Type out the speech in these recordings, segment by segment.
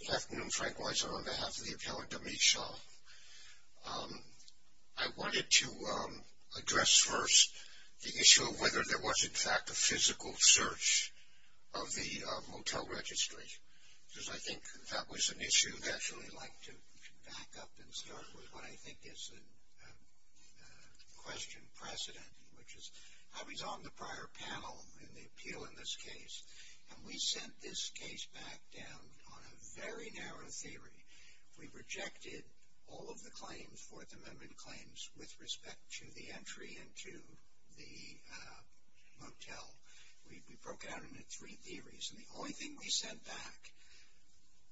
Good afternoon, Frank Weiser on behalf of the appellant, Amit Shah. I wanted to address first the issue of whether there was in fact a physical search of the motel registry, because I think that was an issue that I'd actually like to back up and start with what I think is a question precedent, which is I was on the prior panel in the appeal in this case, and we sent this case back down on a very narrow theory. We rejected all of the claims, Fourth Amendment claims, with respect to the entry into the motel. We broke it down into three theories, and the only thing we sent back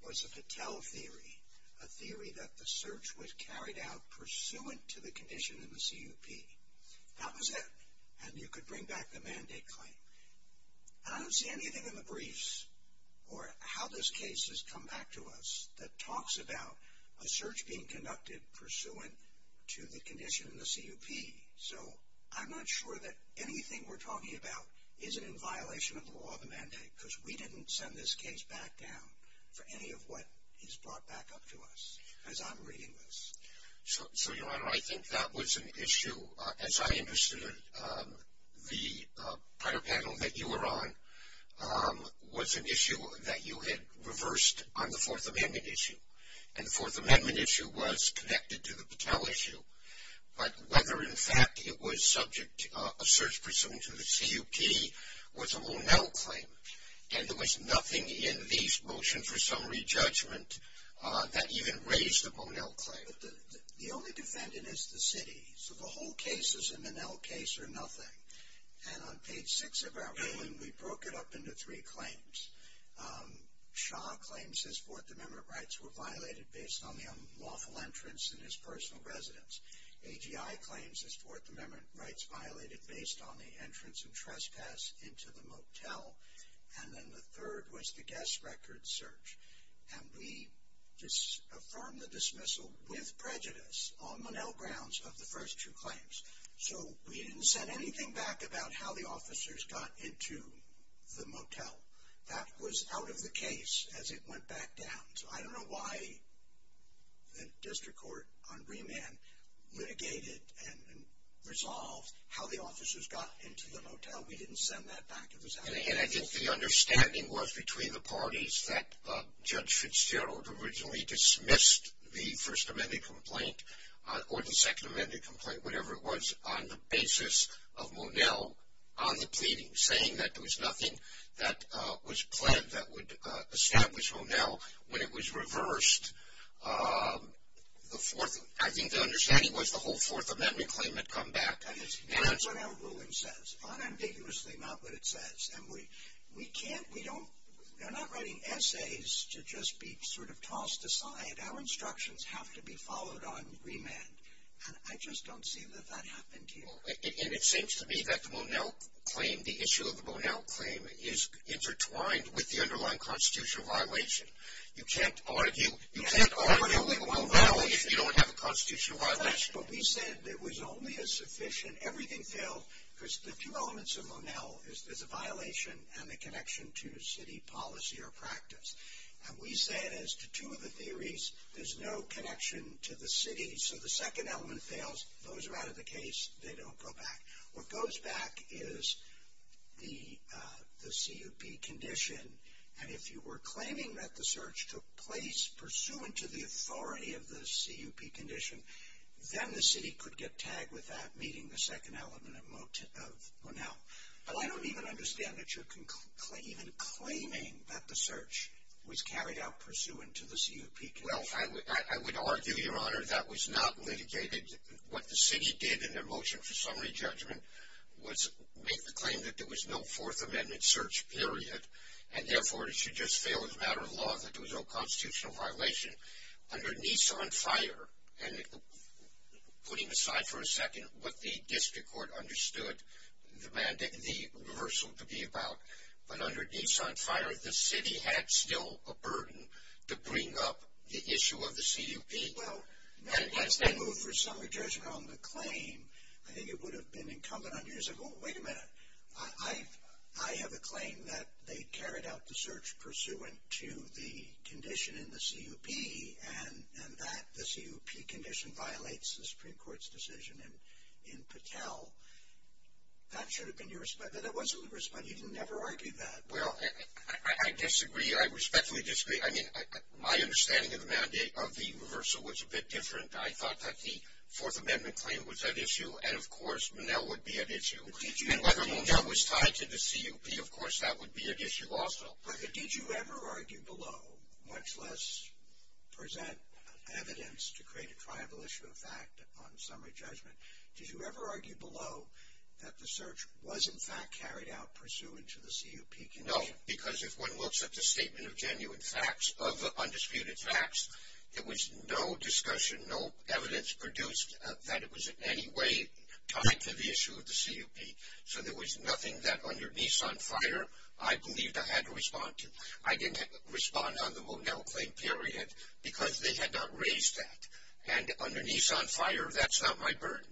was a Patel theory, a theory that the search was carried out pursuant to the condition in the CUP. That was it, and you could bring back the mandate claim. I don't see anything in the briefs or how this case has come back to us that talks about a search being conducted pursuant to the condition in the CUP. So I'm not sure that anything we're talking about isn't in violation of the law of the mandate, because we didn't send this case back down for any of what is brought back up to us as I'm reading this. So, Your Honor, I think that was an issue, as I understood it. The prior panel that you were on was an issue that you had reversed on the Fourth Amendment issue, and the Fourth Amendment issue was connected to the Patel issue. But whether, in fact, it was subject to a search pursuant to the CUP was a Monell claim, and there was nothing in the motion for summary judgment that even raised the Monell claim. The only defendant is the city, so the whole case is a Monell case or nothing. And on page 6 of our ruling, we broke it up into three claims. Shaw claims his Fourth Amendment rights were violated based on the unlawful entrance in his personal residence. AGI claims his Fourth Amendment rights violated based on the entrance and trespass into the motel. And then the third was the guest record search. And we just affirmed the dismissal with prejudice on Monell grounds of the first two claims. So we didn't send anything back about how the officers got into the motel. That was out of the case as it went back down. So I don't know why the district court on remand litigated and resolved how the officers got into the motel. We didn't send that back. It was out of the case. And I think the understanding was between the parties that Judge Fitzgerald originally dismissed the First Amendment complaint or the Second Amendment complaint, whatever it was, on the basis of Monell on the pleading, saying that there was nothing that was pled that would establish Monell. When it was reversed, I think the understanding was the whole Fourth Amendment claim had come back. And that's what our ruling says, unambiguously not what it says. And we can't, we don't, we're not writing essays to just be sort of tossed aside. Our instructions have to be followed on remand. And I just don't see that that happened here. And it seems to me that the Monell claim, the issue of the Monell claim, is intertwined with the underlying constitutional violation. You can't argue with Monell if you don't have a constitutional violation. But we said there was only a sufficient, everything failed, because the two elements of Monell is there's a violation and the connection to city policy or practice. And we said as to two of the theories, there's no connection to the city, so the second element fails, those are out of the case, they don't go back. What goes back is the CUP condition. And if you were claiming that the search took place pursuant to the authority of the CUP condition, then the city could get tagged with that meeting the second element of Monell. But I don't even understand that you're even claiming that the search was carried out pursuant to the CUP condition. Well, I would argue, Your Honor, that was not litigated. What the city did in their motion for summary judgment was make the claim that there was no Fourth Amendment search, period, and therefore it should just fail as a matter of law that there was no constitutional violation. Under Nissan Fire, and putting aside for a second what the district court understood the reversal to be about, but under Nissan Fire, the city had still a burden to bring up the issue of the CUP. Well, as they move for summary judgment on the claim, I think it would have been incumbent on you to say, wait a minute, I have a claim that they carried out the search pursuant to the condition in the CUP and that the CUP condition violates the Supreme Court's decision in Patel. That should have been your response. That wasn't your response. You didn't ever argue that. Well, I disagree. I respectfully disagree. I mean, my understanding of the reversal was a bit different. I thought that the Fourth Amendment claim was at issue and, of course, Monell would be at issue. And whether Monell was tied to the CUP, of course, that would be at issue also. But did you ever argue below, much less present evidence to create a triable issue of fact on summary judgment, did you ever argue below that the search was, in fact, carried out pursuant to the CUP condition? No, because if one looks at the statement of genuine facts, of undisputed facts, there was no discussion, no evidence produced that it was in any way tied to the issue of the CUP. So there was nothing that under Nissan Fire I believed I had to respond to. I didn't respond on the Monell claim period because they had not raised that. And under Nissan Fire, that's not my burden.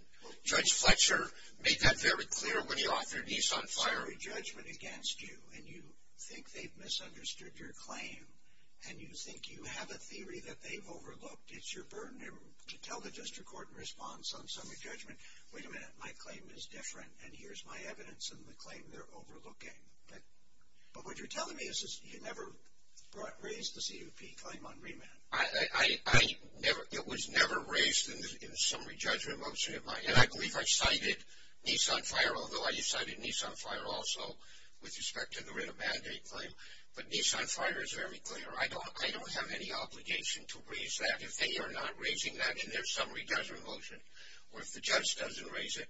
Judge Fletcher made that very clear when he authored Nissan Fire. Summary judgment against you, and you think they've misunderstood your claim, and you think you have a theory that they've overlooked. It's your burden to tell the district court in response on summary judgment, wait a minute, my claim is different, and here's my evidence in the claim they're overlooking. But what you're telling me is you never raised the CUP claim on remand. It was never raised in the summary judgment motion, and I believe I cited Nissan Fire, although I cited Nissan Fire also with respect to the writ of mandate claim. But Nissan Fire is very clear. I don't have any obligation to raise that. If they are not raising that in their summary judgment motion, or if the judge doesn't raise it,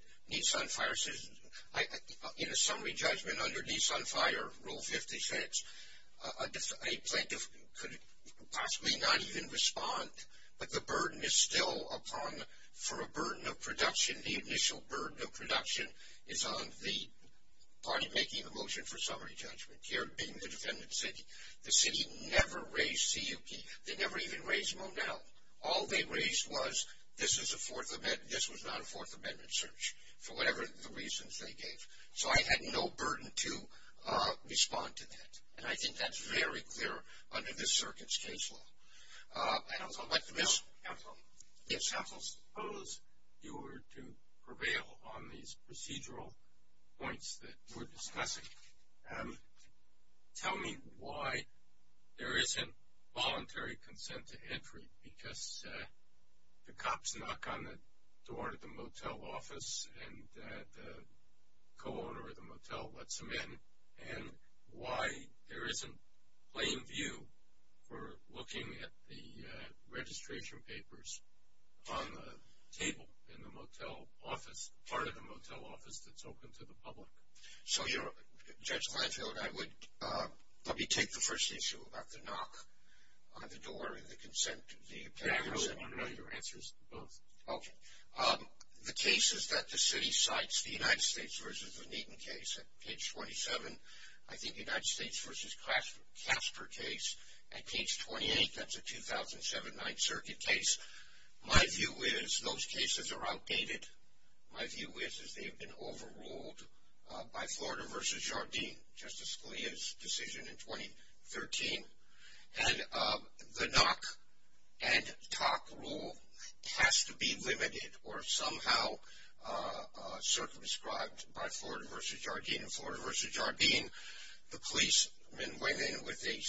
in a summary judgment under Nissan Fire, Rule 56, a plaintiff could possibly not even respond, but the burden is still upon, for a burden of production, the initial burden of production is on the party making the motion for summary judgment, here being the defendant's city. The city never raised CUP. They never even raised Monell. All they raised was this is a Fourth Amendment, this was not a Fourth Amendment search, for whatever the reasons they gave. So I had no burden to respond to that. And I think that's very clear under this circuit's case law. I don't know. Yes? Counsel, I suppose you were to prevail on these procedural points that you were discussing. Tell me why there isn't voluntary consent to entry, because the cops knock on the door of the motel office and the co-owner of the motel lets them in, and why there isn't plain view for looking at the registration papers on the table in the motel office, part of the motel office that's open to the public. So, Judge Glanfield, let me take the first issue about the knock on the door and the consent. Can I know your answers to both? Okay. The cases that the city cites, the United States versus the Neaton case at page 27, I think the United States versus Casper case at page 28, that's a 2007 Ninth Circuit case. My view is those cases are outdated. My view is they've been overruled by Florida versus Jardim, Justice Scalia's decision in 2013. And the knock and talk rule has to be limited or somehow circumscribed by Florida versus Jardim. In Florida versus Jardim, the policemen went in with a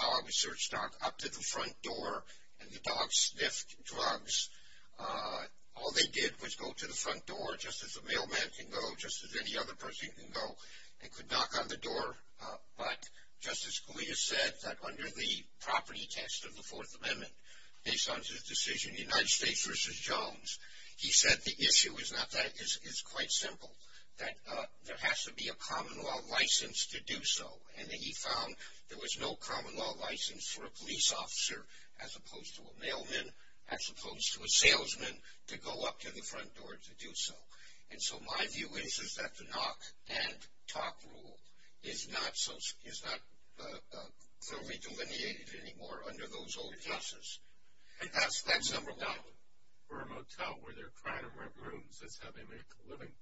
dog, a search dog, up to the front door, and the dog sniffed drugs. All they did was go to the front door, just as a mailman can go, just as any other person can go, and could knock on the door. But Justice Scalia said that under the property test of the Fourth Amendment, based on his decision in the United States versus Jones, he said the issue is not that. It's quite simple, that there has to be a common law license to do so. And he found there was no common law license for a police officer, as opposed to a mailman, as opposed to a salesman, to go up to the front door to do so. And so my view is is that the knock and talk rule is not fully delineated anymore under those old laws. And that's number one. For a motel where they're trying to rent rooms, that's how they make a living.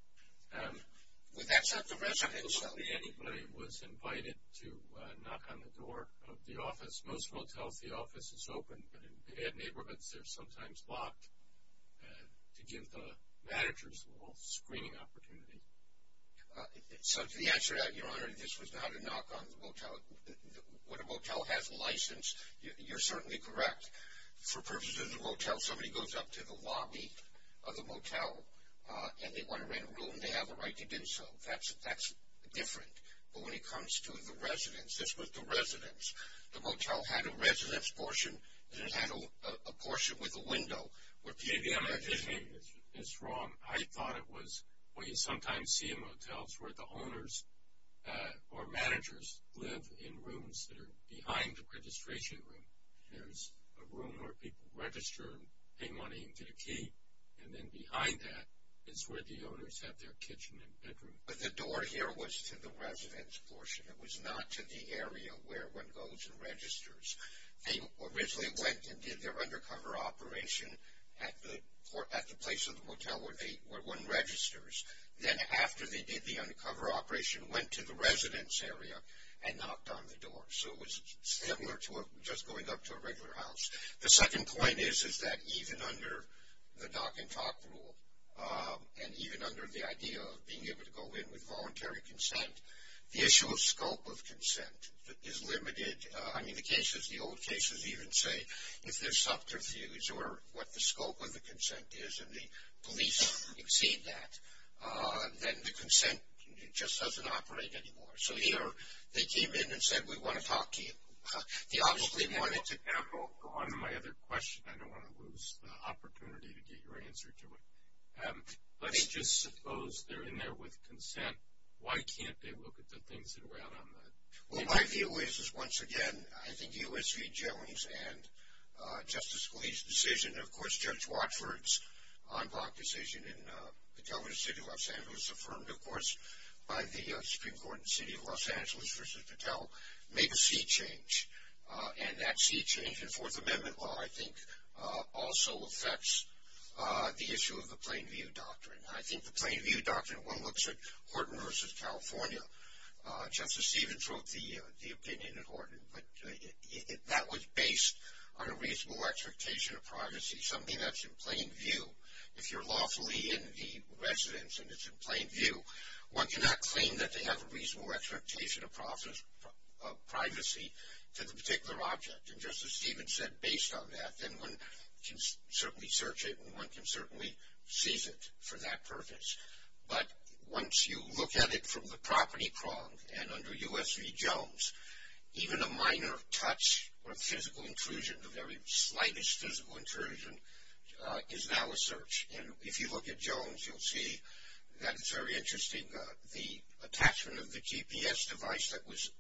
With that set the residential. Nobody, anybody was invited to knock on the door of the office. Most motels, the office is open. But in bad neighborhoods, they're sometimes locked to give the managers a little screening opportunity. So to answer that, Your Honor, this was not a knock on the motel. When a motel has a license, you're certainly correct. For purposes of the motel, somebody goes up to the lobby of the motel, and they want to rent a room, they have a right to do so. That's different. But when it comes to the residence, this was the residence. The motel had a residence portion, and it had a portion with a window. Maybe I'm envisioning this wrong. I thought it was what you sometimes see in motels where the owners or managers live in rooms that are behind the registration room. There's a room where people register and pay money into the key, and then behind that is where the owners have their kitchen and bedroom. But the door here was to the residence portion. It was not to the area where one goes and registers. They originally went and did their undercover operation at the place of the motel where one registers. Then after they did the undercover operation, went to the residence area and knocked on the door. So it was similar to just going up to a regular house. The second point is that even under the dock and talk rule, and even under the idea of being able to go in with voluntary consent, the issue of scope of consent is limited. I mean, the cases, the old cases even say if there's subterfuge or what the scope of the consent is, and the police exceed that, then the consent just doesn't operate anymore. So either they came in and said, we want to talk to you. They obviously wanted to. For one of my other questions, I don't want to lose the opportunity to get your answer to it. Let's just suppose they're in there with consent. Why can't they look at the things that are out on the internet? Well, my view is, once again, I think the OSV jailings and Justice Scalia's decision, and of course Judge Watford's en bloc decision in the governor's city of Los Angeles, affirmed, of course, by the Supreme Court in the city of Los Angeles versus Patel, made a sea change. And that sea change in Fourth Amendment law, I think, also affects the issue of the Plain View Doctrine. I think the Plain View Doctrine, when one looks at Horton versus California, Justice Stevens wrote the opinion at Horton, but that was based on a reasonable expectation of privacy, something that's in plain view. If you're lawfully in the residence and it's in plain view, one cannot claim that they have a reasonable expectation of privacy to the particular object. And Justice Stevens said, based on that, then one can certainly search it and one can certainly seize it for that purpose. But once you look at it from the property prong and under U.S. v. Jones, even a minor touch or physical intrusion, the very slightest physical intrusion, is now a search. And if you look at Jones, you'll see that it's very interesting. The attachment of the GPS device that was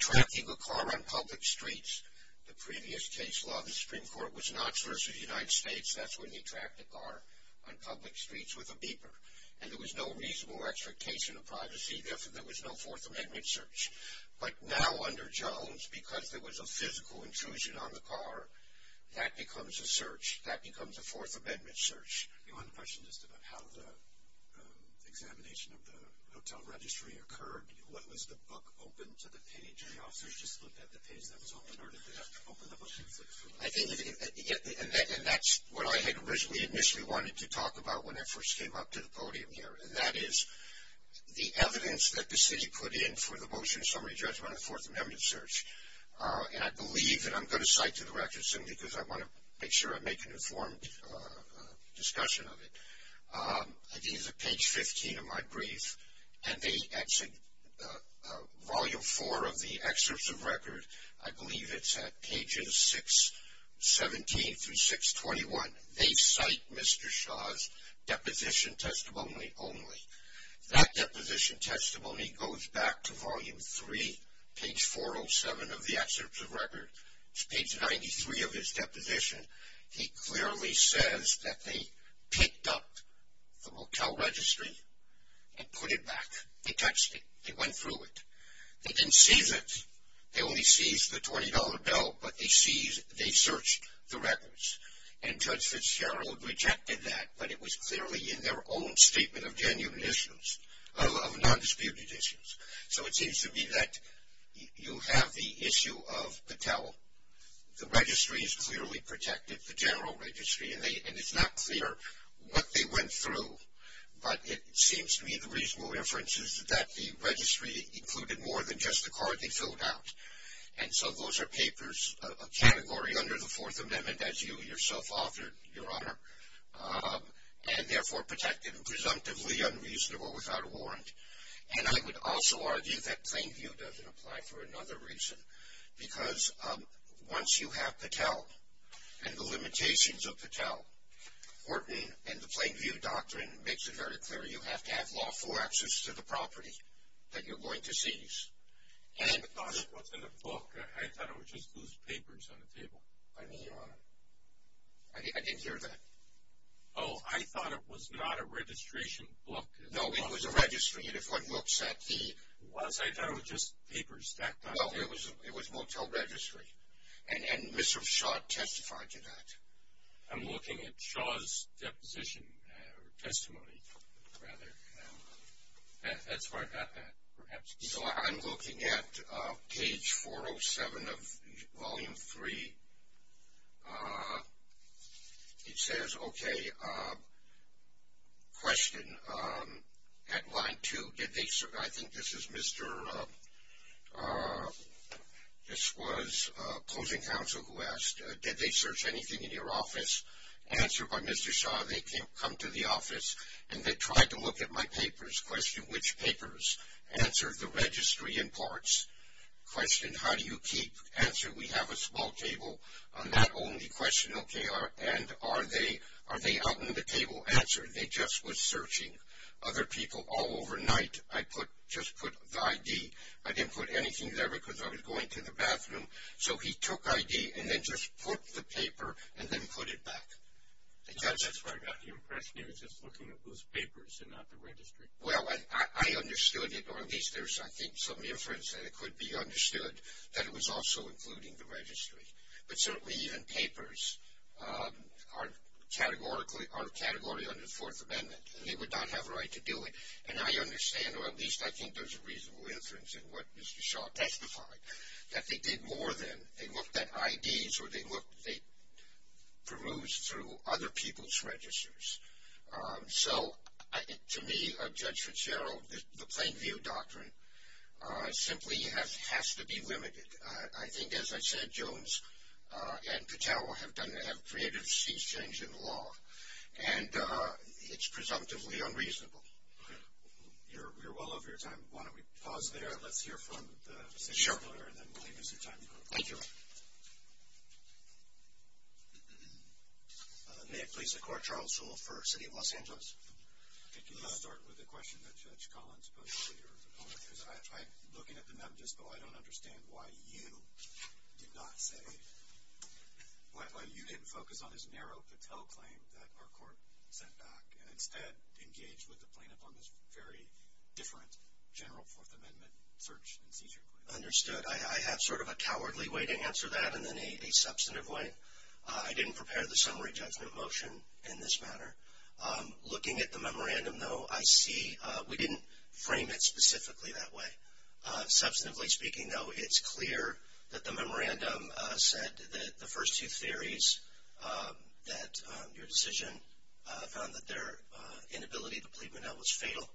tracking a car on public streets, the previous case law of the Supreme Court was Knox versus United States. That's when they tracked a car on public streets with a beeper. And there was no reasonable expectation of privacy. Therefore, there was no Fourth Amendment search. But now under Jones, because there was a physical intrusion on the car, that becomes a search. One question just about how the examination of the hotel registry occurred. What was the book open to the page? Did the officers just look at the page that was open, or did they have to open the book? And that's what I had originally initially wanted to talk about when I first came up to the podium here, and that is the evidence that the city put in for the motion, summary, judgment, and Fourth Amendment search. And I believe, and I'm going to cite to the record soon because I want to make sure I make an informed discussion of it. I think it's at page 15 of my brief, and they exit volume four of the excerpts of record. I believe it's at pages 617 through 621. They cite Mr. Shaw's deposition testimony only. That deposition testimony goes back to volume three, page 407 of the excerpts of record. It's page 93 of his deposition. He clearly says that they picked up the motel registry and put it back. They touched it. They went through it. They didn't seize it. They only seized the $20 bill, but they searched the records. And Judge Fitzgerald rejected that, but it was clearly in their own statement of genuine issues, of nondisputed issues. So it seems to me that you have the issue of Patel. The registry is clearly protected, the general registry, and it's not clear what they went through, but it seems to me the reasonable inference is that the registry included more than just the card they filled out. And so those are papers, a category under the Fourth Amendment, as you yourself authored, Your Honor, and therefore protected and presumptively unreasonable without a warrant. And I would also argue that plain view doesn't apply for another reason, because once you have Patel and the limitations of Patel, Hortoning and the plain view doctrine makes it very clear you have to have lawful access to the property that you're going to seize. I thought it was in the book. I thought it was just loose papers on the table. I didn't hear that. Oh, I thought it was not a registration book. No, it was a registry, and if one looks at the... I thought it was just papers stacked on top. No, it was Motel Registry, and Mr. Shaw testified to that. I'm looking at Shaw's deposition, or testimony, rather. That's where I got that, perhaps. So I'm looking at page 407 of Volume 3. It says, okay, question. At line 2, did they search... I think this is Mr.... This was closing counsel who asked, did they search anything in your office? Answered by Mr. Shaw, they come to the office, and they tried to look at my papers. Question, which papers? Answer, the registry and parts. Question, how do you keep... Answer, we have a small table. That only question, okay, and are they out in the table? Answer, they just were searching other people all overnight. I just put the ID. I didn't put anything there because I was going to the bathroom. So he took ID and then just put the paper and then put it back. That's where I got the impression he was just looking at loose papers and not the registry. Well, I understood it, or at least there's, I think, some inference that it could be understood that it was also including the registry. But certainly even papers are a category under the Fourth Amendment, and they would not have a right to do it. And I understand, or at least I think there's a reasonable inference in what Mr. Shaw testified, that they did more than they looked at IDs or they perused through other people's registers. So to me, Judge Fitzgerald, the Plain View Doctrine simply has to be limited. I think, as I said, Jones and Patel have done, have created a sea change in law, and it's presumptively unreasonable. You're well over your time. Why don't we pause there and let's hear from the assistant attorney and then we'll leave you some time. Thank you. May it please the Court, Charles Sewell for the City of Los Angeles. Can you start with the question that Judge Collins posed to your opponent? Because I tried looking at the memo just now. I don't understand why you did not say, why you didn't focus on his narrow Patel claim that our court sent back and instead engaged with the plaintiff on this very different general Fourth Amendment search and seizure claim. Understood. I have sort of a cowardly way to answer that and then a substantive way. I didn't prepare the summary judgment motion in this matter. Looking at the memorandum, though, I see we didn't frame it specifically that way. Substantively speaking, though, it's clear that the memorandum said that the first two theories, that your decision found that their inability to plead Monell was fatal,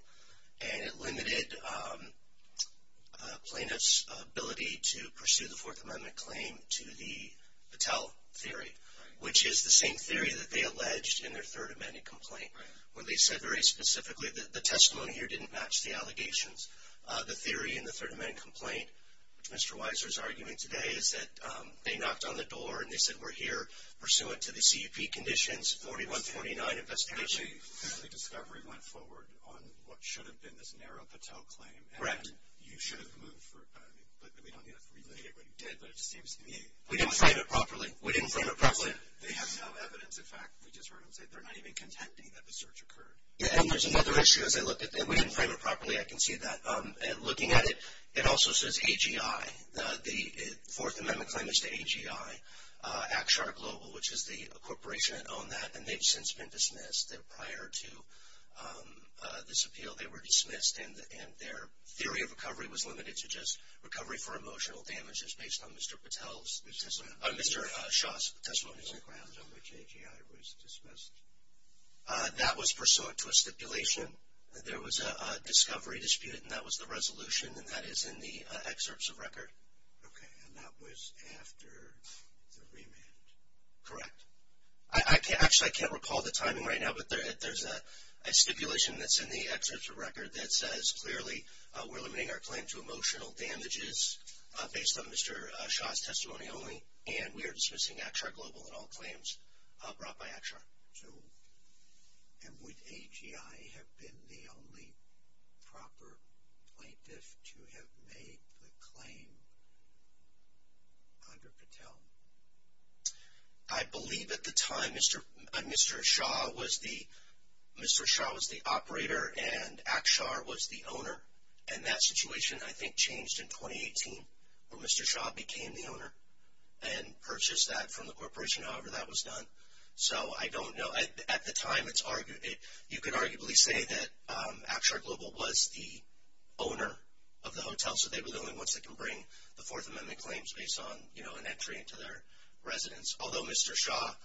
and it limited plaintiff's ability to pursue the Fourth Amendment claim to the Patel theory, which is the same theory that they alleged in their Third Amendment complaint, where they said very specifically that the testimony here didn't match the allegations. The theory in the Third Amendment complaint, which Mr. Weiser is arguing today, is that they knocked on the door and they said we're here pursuant to the CUP conditions, 4149 investigation. The discovery went forward on what should have been this narrow Patel claim. Correct. And you should have moved for it. But we don't need to relitigate what you did, but it just seems to me. We didn't frame it properly. We didn't frame it properly. They have no evidence. In fact, we just heard them say they're not even contending that the search occurred. Yeah, and there's another issue. As I look at it, we didn't frame it properly. I can see that. Looking at it, it also says AGI. The Fourth Amendment claim is to AGI, Akshar Global, which is the corporation that owned that, and they've since been dismissed. Prior to this appeal, they were dismissed, and their theory of recovery was limited to just recovery for emotional damages based on Mr. Patel's, Mr. Shah's testimony. The grounds on which AGI was dismissed. That was pursuant to a stipulation. There was a discovery dispute, and that was the resolution, and that is in the excerpts of record. Okay, and that was after the remand. Correct. Actually, I can't recall the timing right now, but there's a stipulation that's in the excerpts of record that says, clearly, we're limiting our claim to emotional damages based on Mr. Shah's testimony only, and we are dismissing Akshar Global and all claims brought by Akshar. So would AGI have been the only proper plaintiff to have made the claim under Patel? I believe at the time Mr. Shah was the operator and Akshar was the owner, and that situation, I think, changed in 2018, where Mr. Shah became the owner and purchased that from the corporation, however that was done. So I don't know. At the time, you could arguably say that Akshar Global was the owner of the hotel, so they were the only ones that can bring the Fourth Amendment claims based on, you know, an entry into their residence, although Mr. Shah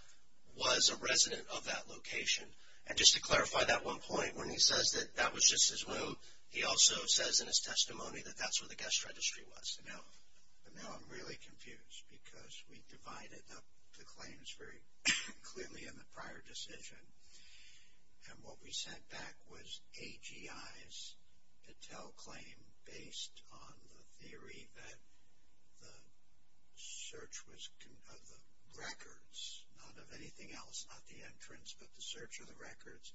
was a resident of that location. And just to clarify that one point, when he says that that was just his room, he also says in his testimony that that's where the guest registry was. Now, I'm really confused because we divided up the claims very clearly in the prior decision, and what we sent back was AGI's Patel claim based on the theory that the search of the records, not of anything else, not the entrance, but the search of the records,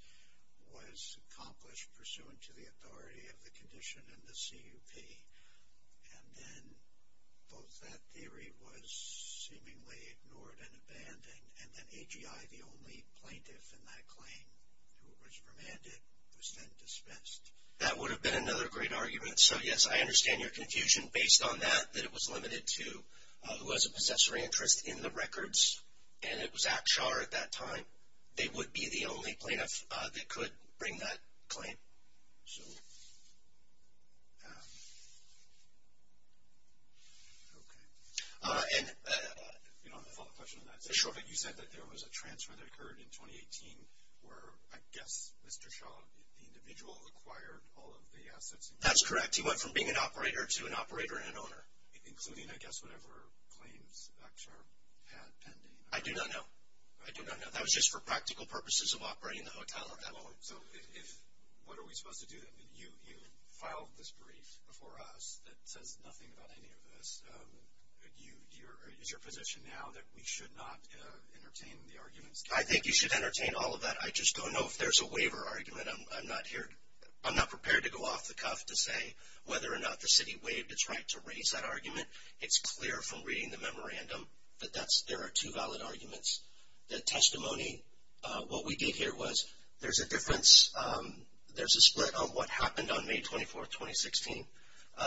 was accomplished pursuant to the authority of the condition and the CUP. And then both that theory was seemingly ignored and abandoned, and then AGI, the only plaintiff in that claim who was remanded, was then dispensed. That would have been another great argument. So, yes, I understand your confusion based on that, that it was limited to who has a possessory interest in the records, and it was Akshar at that time. They would be the only plaintiff that could bring that claim. So, okay. And, you know, I have a follow-up question on that. Sure. You said that there was a transfer that occurred in 2018 where, I guess, Mr. Shah, the individual acquired all of the assets. That's correct. He went from being an operator to an operator and an owner. Including, I guess, whatever claims Akshar had pending. I do not know. I do not know. That was just for practical purposes of operating the hotel at that point. So, what are we supposed to do then? You filed this brief before us that says nothing about any of this. Is your position now that we should not entertain the arguments? I think you should entertain all of that. I just don't know if there's a waiver argument. I'm not prepared to go off the cuff to say whether or not the city waived its right to raise that argument. It's clear from reading the memorandum that there are two valid arguments. The testimony, what we did here was there's a difference. There's a split on what happened on May 24, 2016.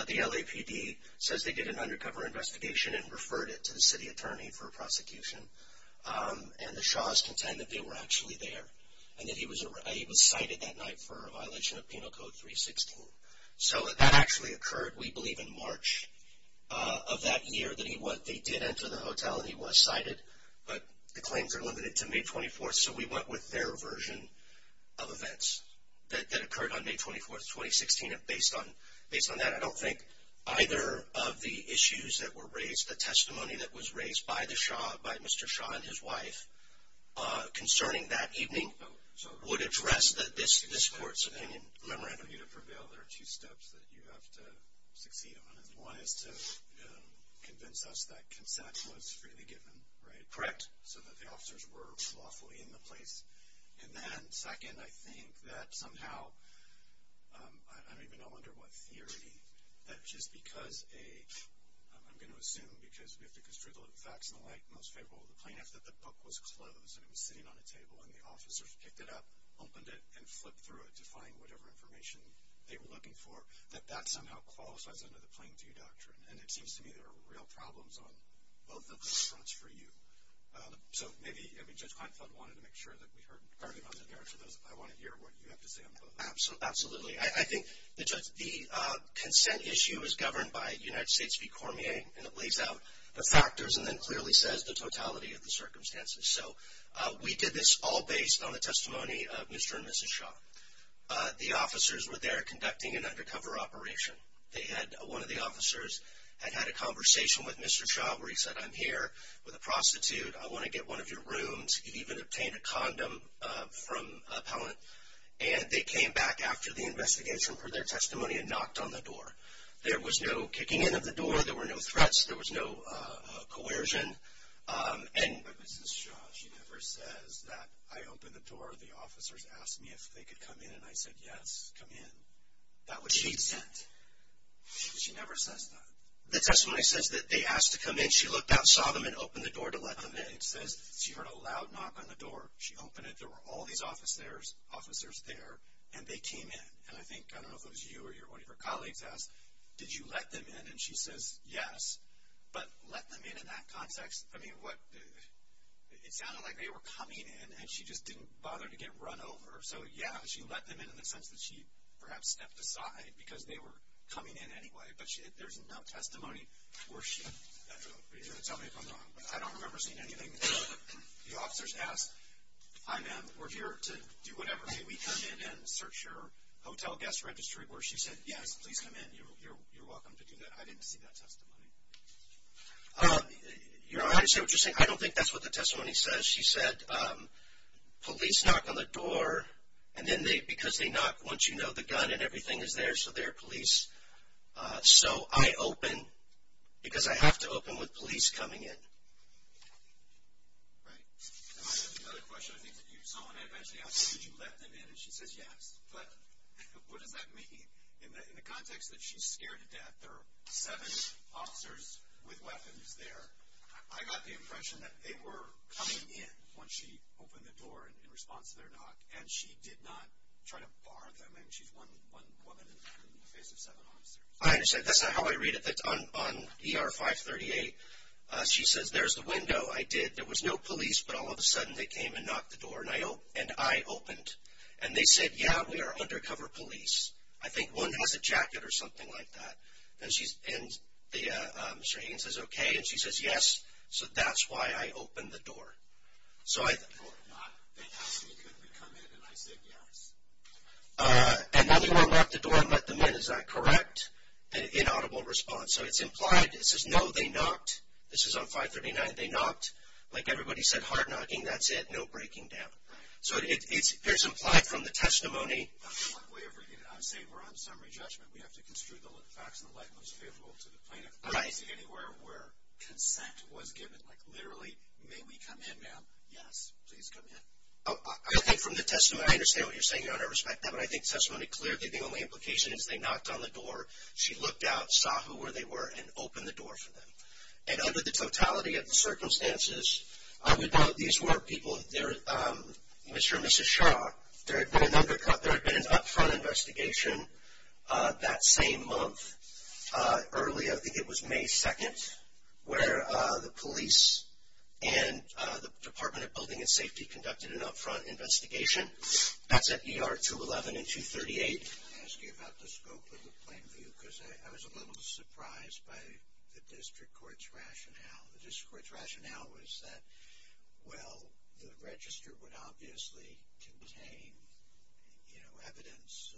The LAPD says they did an undercover investigation and referred it to the city attorney for prosecution. And the Shahs contend that they were actually there and that he was cited that night for a violation of Penal Code 316. So, that actually occurred, we believe, in March of that year. They did enter the hotel and he was cited. But the claims are limited to May 24, so we went with their version of events that occurred on May 24, 2016. And based on that, I don't think either of the issues that were raised, the testimony that was raised by the Shah, by Mr. Shah and his wife, concerning that evening would address this court's opinion. Remember, I don't want you to prevail. There are two steps that you have to succeed on. One is to convince us that consent was freely given, right? Correct. So that the officers were lawfully in the place. And then, second, I think that somehow, I don't even know under what theory, that just because a, I'm going to assume because we have to construe the facts and the like, most favorable to the plaintiff that the book was closed and it was sitting on a table and the officers picked it up, opened it, and flipped through it to find whatever information they were looking for, that that somehow qualifies under the Plainview Doctrine. And it seems to me there are real problems on both of those fronts for you. So maybe, I mean, Judge Kleinfeld wanted to make sure that we heard. I want to hear what you have to say on both. Absolutely. I think the consent issue is governed by United States v. Cormier, and it lays out the factors and then clearly says the totality of the circumstances. So we did this all based on the testimony of Mr. and Mrs. Shah. The officers were there conducting an undercover operation. They had, one of the officers had had a conversation with Mr. Shah where he said, I'm here with a prostitute. I want to get one of your rooms. He even obtained a condom from appellant. And they came back after the investigation for their testimony and knocked on the door. There was no kicking in of the door. There were no threats. There was no coercion. But Mrs. Shah, she never says that I opened the door, the officers asked me if they could come in, and I said, yes, come in. That was consent. She never says that. The testimony says that they asked to come in. She looked out, saw them, and opened the door to let them in. It says she heard a loud knock on the door. She opened it. There were all these officers there, and they came in. And I think, I don't know if it was you or one of your colleagues asked, did you let them in? And she says, yes. But let them in in that context? I mean, it sounded like they were coming in, and she just didn't bother to get run over. So, yeah, she let them in in the sense that she perhaps stepped aside because they were coming in anyway. But there's no testimony where she, I don't know if you're going to tell me if I'm wrong, but I don't remember seeing anything. The officers asked, hi, ma'am, we're here to do whatever. Can we come in and search your hotel guest registry? Where she said, yes, please come in. You're welcome to do that. I didn't see that testimony. You know, I understand what you're saying. I don't think that's what the testimony says. She said, police knock on the door, and then because they knock, once you know the gun and everything is there, so they're police. So I open because I have to open with police coming in. Right. And I have another question. I think that you saw when I eventually asked you, did you let them in? And she says, yes. But what does that mean? In the context that she's scared to death, there are seven officers with weapons there. I got the impression that they were coming in when she opened the door in response to their knock, and she did not try to bar them in. She's one woman in the face of seven officers. I understand. That's not how I read it. That's on ER 538. She says, there's the window. I did. There was no police, but all of a sudden they came and knocked the door, and I opened. And they said, yeah, we are undercover police. I think one has a jacket or something like that. And Mr. Hagan says, okay. And she says, yes. So that's why I opened the door. So I thought. No, they knocked. They asked if they could come in, and I said yes. And then they went and locked the door and let them in. Is that correct in audible response? So it's implied. It says, no, they knocked. This is on 539. They knocked. Like everybody said, hard knocking. That's it. No breaking down. Right. So it's implied from the testimony. I'm saying we're on summary judgment. We have to construe the facts in the light most favorable to the plaintiff. Right. Is it anywhere where consent was given? Like literally, may we come in, ma'am? Yes. Please come in. I think from the testimony, I understand what you're saying. I respect that. But I think testimony clearly, the only implication is they knocked on the door. She looked out, saw who they were, and opened the door for them. And under the totality of the circumstances, I would note these were people. Mr. and Mrs. Shaw, there had been an up-front investigation that same month. Early, I think it was May 2nd, where the police and the Department of Building and Safety conducted an up-front investigation. That's at ER 211 and 238. I'm going to ask you about the scope of the plaintiff, The district court's rationale was that, well, the register would obviously contain, you know, evidence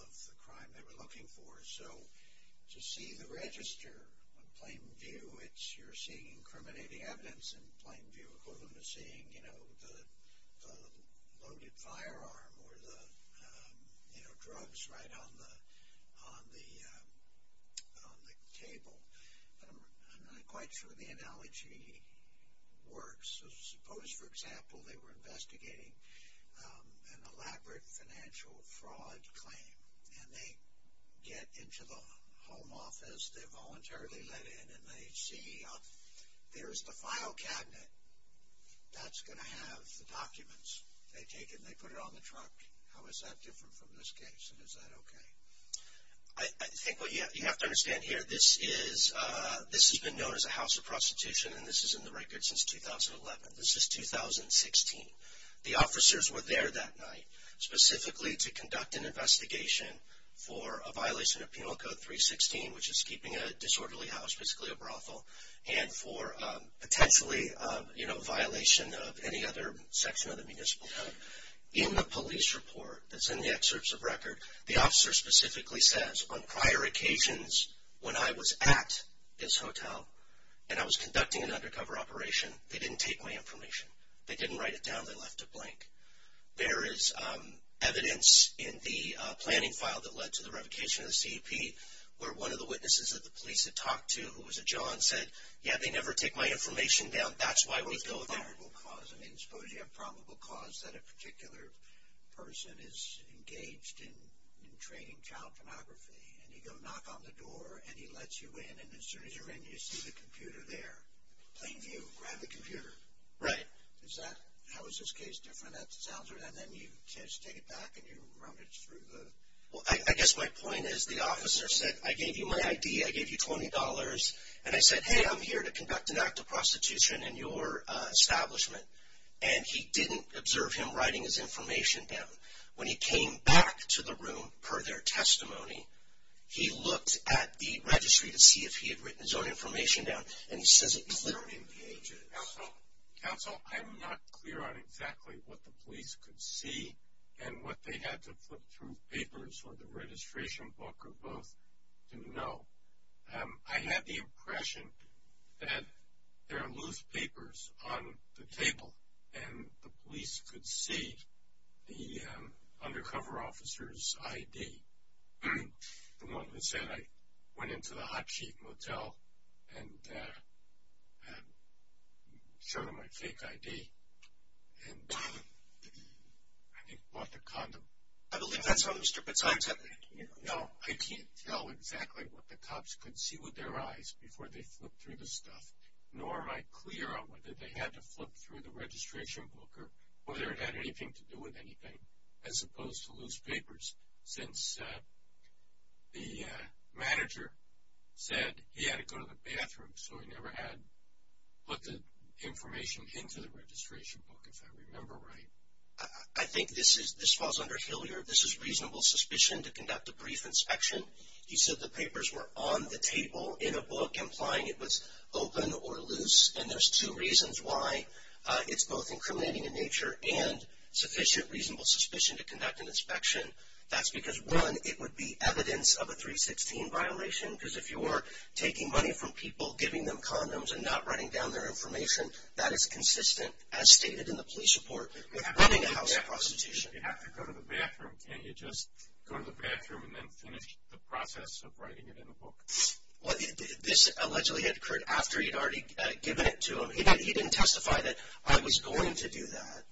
of the crime they were looking for. So to see the register on plain view, you're seeing incriminating evidence in plain view, equivalent to seeing, you know, the loaded firearm or the, you know, drugs right on the table. I'm not quite sure the analogy works. Suppose, for example, they were investigating an elaborate financial fraud claim. And they get into the home office. They're voluntarily let in, and they see there's the file cabinet. That's going to have the documents. They take it and they put it on the truck. How is that different from this case, and is that okay? I think what you have to understand here, this has been known as a house of prostitution, and this is in the record since 2011. This is 2016. The officers were there that night specifically to conduct an investigation for a violation of Penal Code 316, which is keeping a disorderly house, basically a brothel, and for potentially, you know, violation of any other section of the municipal code. In the police report that's in the excerpts of record, the officer specifically says, on prior occasions when I was at this hotel and I was conducting an undercover operation, they didn't take my information. They didn't write it down. They left it blank. There is evidence in the planning file that led to the revocation of the CEP where one of the witnesses that the police had talked to, who was a John, said, yeah, they never take my information down. That's why we go there. That's a probable cause. I mean, suppose you have a probable cause that a particular person is engaged in training child pornography, and you go knock on the door, and he lets you in, and as soon as you're in, you see the computer there. Plain view. Grab the computer. Right. Is that, how is this case different? And then you just take it back and you rummage through the? Well, I guess my point is the officer said, I gave you my ID, I gave you $20, and I said, hey, I'm here to conduct an act of prostitution in your establishment, and he didn't observe him writing his information down. When he came back to the room per their testimony, he looked at the registry to see if he had written his own information down, and he says it clearly. Counsel, I'm not clear on exactly what the police could see and what they had to flip through papers or the registration book or both to know. I had the impression that there are loose papers on the table, and the police could see the undercover officer's ID, the one who said, I went into the Hot Chief Motel and showed him my fake ID, and I think bought the condom. I believe that's how those stupid signs happen. No, I can't tell exactly what the cops could see with their eyes before they flipped through the stuff, nor am I clear on whether they had to flip through the registration book or whether it had anything to do with anything, as opposed to loose papers, since the manager said he had to go to the bathroom, so he never had put the information into the registration book, if I remember right. I think this falls under Hilliard. This is reasonable suspicion to conduct a brief inspection. He said the papers were on the table in a book, implying it was open or loose, and there's two reasons why it's both incriminating in nature and sufficient reasonable suspicion to conduct an inspection. That's because, one, it would be evidence of a 316 violation, because if you were taking money from people, giving them condoms, and not writing down their information, that is consistent, as stated in the police report. You have to go to the bathroom. Can't you just go to the bathroom and then finish the process of writing it in a book? This allegedly had occurred after he'd already given it to him. He didn't testify that, I was going to do that.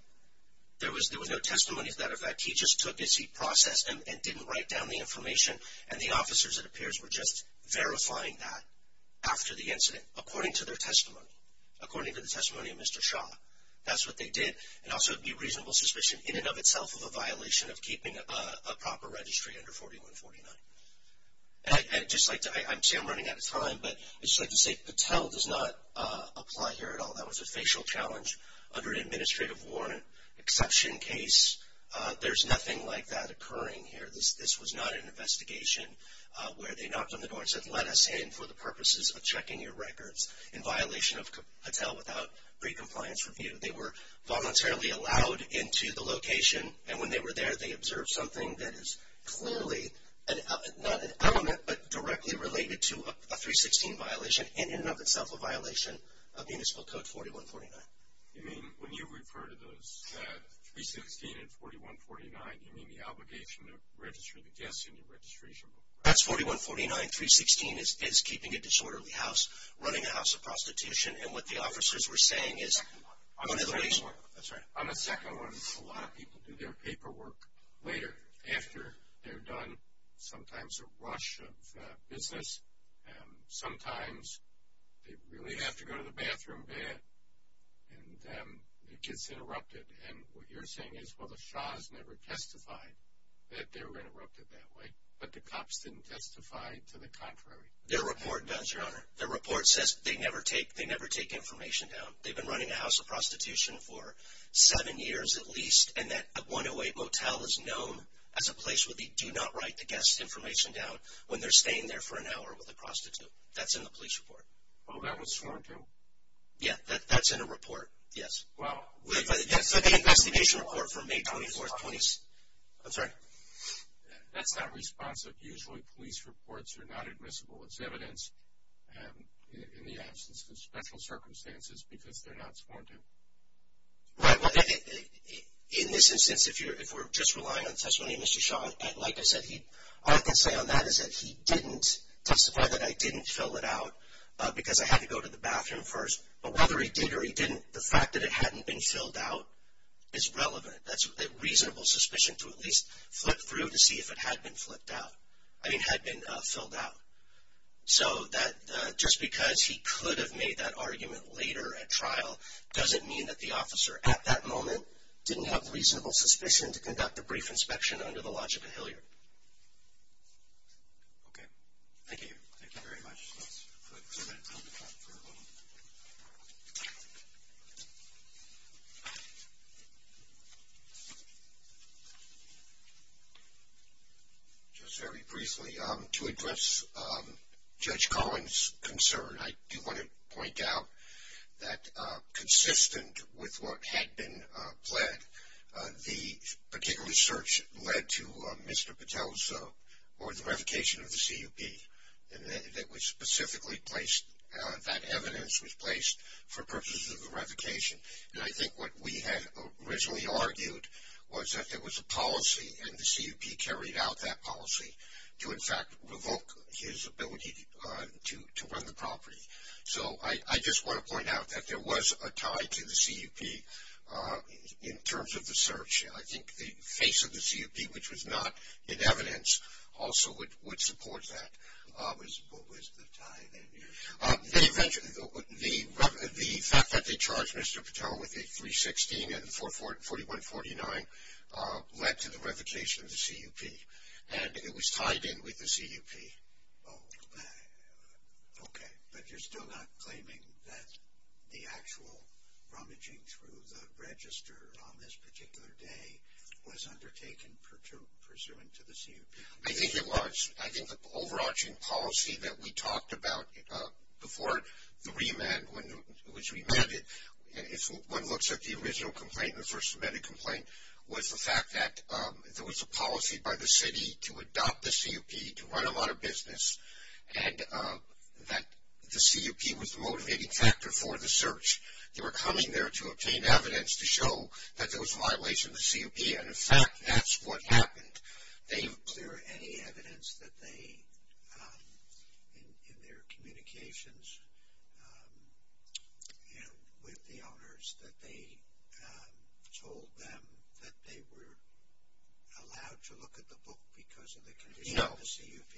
There was no testimony to that effect. He just took it, he processed it, and didn't write down the information, and the officers, it appears, were just verifying that after the incident, according to their testimony, according to the testimony of Mr. Shaw. That's what they did. And also it would be reasonable suspicion in and of itself of a violation of keeping a proper registry under 4149. And I'd just like to say, I see I'm running out of time, but I'd just like to say Patel does not apply here at all. That was a facial challenge under an administrative warrant, exception case. There's nothing like that occurring here. This was not an investigation where they knocked on the door and said, let us in for the purposes of checking your records in violation of Patel without pre-compliance review. They were voluntarily allowed into the location, and when they were there, they observed something that is clearly not an element, but directly related to a 316 violation, and in and of itself a violation of Municipal Code 4149. You mean when you refer to those 316 and 4149, you mean the obligation to register the guests in your registration book? That's 4149. 316 is keeping a disorderly house, running a house of prostitution, and what the officers were saying is one of the reasons. On the second one, a lot of people do their paperwork later, after they're done, sometimes a rush of business. Sometimes they really have to go to the bathroom bad, and it gets interrupted. And what you're saying is, well, the Shahs never testified that they were interrupted that way, but the cops didn't testify to the contrary. Their report does, Your Honor. They never take information down. They've been running a house of prostitution for seven years at least, and that 108 motel is known as a place where they do not write the guest's information down when they're staying there for an hour with a prostitute. That's in the police report. Oh, that was sworn to? Yeah, that's in a report, yes. Well, that's the investigation report from May 24th. I'm sorry. That's not responsive. Usually police reports are not admissible. It's evidence in the absence of special circumstances because they're not sworn to. In this instance, if we're just relying on testimony of Mr. Shah, like I said, all I can say on that is that he didn't testify that I didn't fill it out because I had to go to the bathroom first. But whether he did or he didn't, the fact that it hadn't been filled out is relevant. That's a reasonable suspicion to at least flip through to see if it had been filled out. So that just because he could have made that argument later at trial doesn't mean that the officer at that moment didn't have reasonable suspicion to conduct a brief inspection under the logic of Hillyard. Okay. Thank you. Thank you very much. Let's put that on the top for a moment. Just very briefly, to address Judge Collins' concern, I do want to point out that consistent with what had been pled, the particular search led to Mr. Patel's or the revocation of the CUP. And that was specifically placed, that evidence was placed for purposes of the revocation. And I think what we had originally argued was that there was a policy and the CUP carried out that policy to in fact revoke his ability to run the property. So I just want to point out that there was a tie to the CUP in terms of the search. I think the face of the CUP, which was not in evidence, also would support that. What was the tie then? The fact that they charged Mr. Patel with a 316 and 4149 led to the revocation of the CUP. And it was tied in with the CUP. Okay. But you're still not claiming that the actual rummaging through the register on this particular day was undertaken pursuant to the CUP? I think it was. I think the overarching policy that we talked about before the remand, when it was remanded, if one looks at the original complaint, the first submitted complaint, was the fact that there was a policy by the city to adopt the CUP to run a lot of business and that the CUP was the motivating factor for the search. They were coming there to obtain evidence to show that there was a violation of the CUP. And in fact, that's what happened. Is there any evidence that they, in their communications with the owners, that they told them that they were allowed to look at the book because of the condition of the CUP?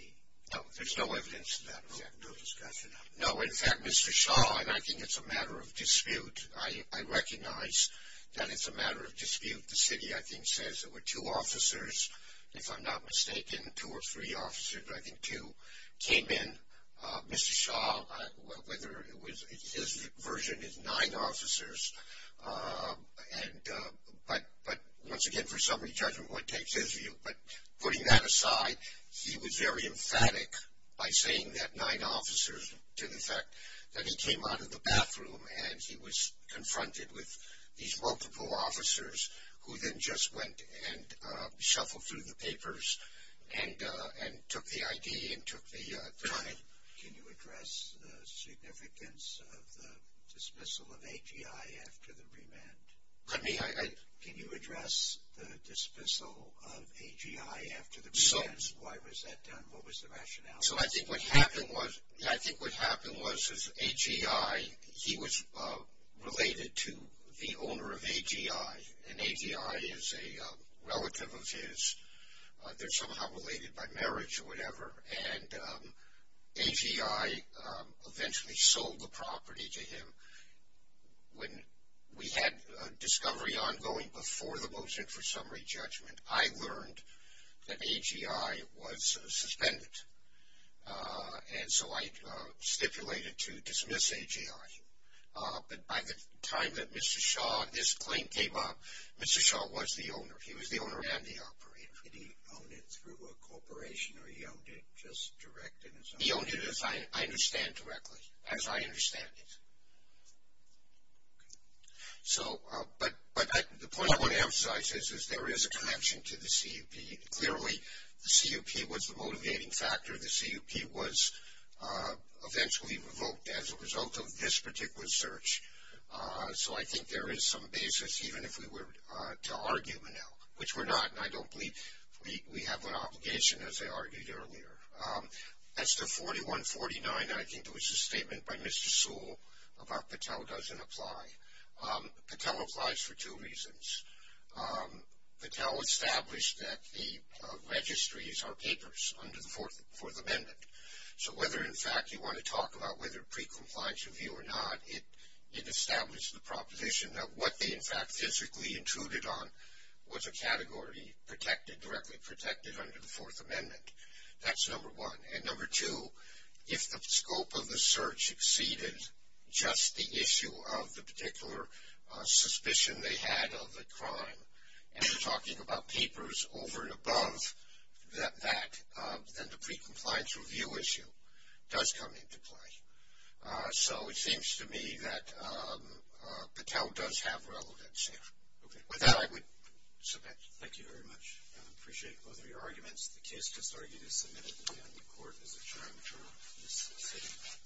No. There's no evidence of that? No discussion of that? No. In fact, Mr. Shaw, and I think it's a matter of dispute, I recognize that it's a matter of dispute. The city, I think, says there were two officers, if I'm not mistaken, two or three officers. I think two came in. Mr. Shaw, whether it was his version is nine officers, but once again, for summary judgment, what takes his view? But putting that aside, he was very emphatic by saying that nine officers to the fact that he came out of the bathroom and he was confronted with these multiple officers who then just went and shuffled through the papers and took the ID and took the time. Can you address the significance of the dismissal of AGI after the remand? Pardon me? Can you address the dismissal of AGI after the remand? What was the rationale? So I think what happened was AGI, he was related to the owner of AGI, and AGI is a relative of his. They're somehow related by marriage or whatever, and AGI eventually sold the property to him. When we had a discovery ongoing before the motion for summary judgment, I learned that AGI was suspended, and so I stipulated to dismiss AGI. But by the time that Mr. Shaw, this claim came up, Mr. Shaw was the owner. He was the owner and the operator. Did he own it through a corporation or he owned it just direct? He owned it as I understand directly, as I understand it. So, but the point I want to emphasize is there is a connection to the CUP. Clearly, the CUP was the motivating factor. The CUP was eventually revoked as a result of this particular search. So I think there is some basis even if we were to argue now, which we're not, and I don't believe we have an obligation as I argued earlier. As to 4149, I think it was a statement by Mr. Sewell about Patel doesn't apply. Patel applies for two reasons. Patel established that the registries are papers under the Fourth Amendment. So whether in fact you want to talk about whether pre-compliance review or not, it established the proposition that what they in fact physically intruded on was a category protected, directly protected under the Fourth Amendment. That's number one. And number two, if the scope of the search exceeded just the issue of the particular suspicion they had of a crime, and they're talking about papers over and above that, then the pre-compliance review issue does come into play. So it seems to me that Patel does have relevance here. With that, I would submit. Thank you very much. I appreciate both of your arguments. The case just argued is submitted, and the court is adjourned for this sitting.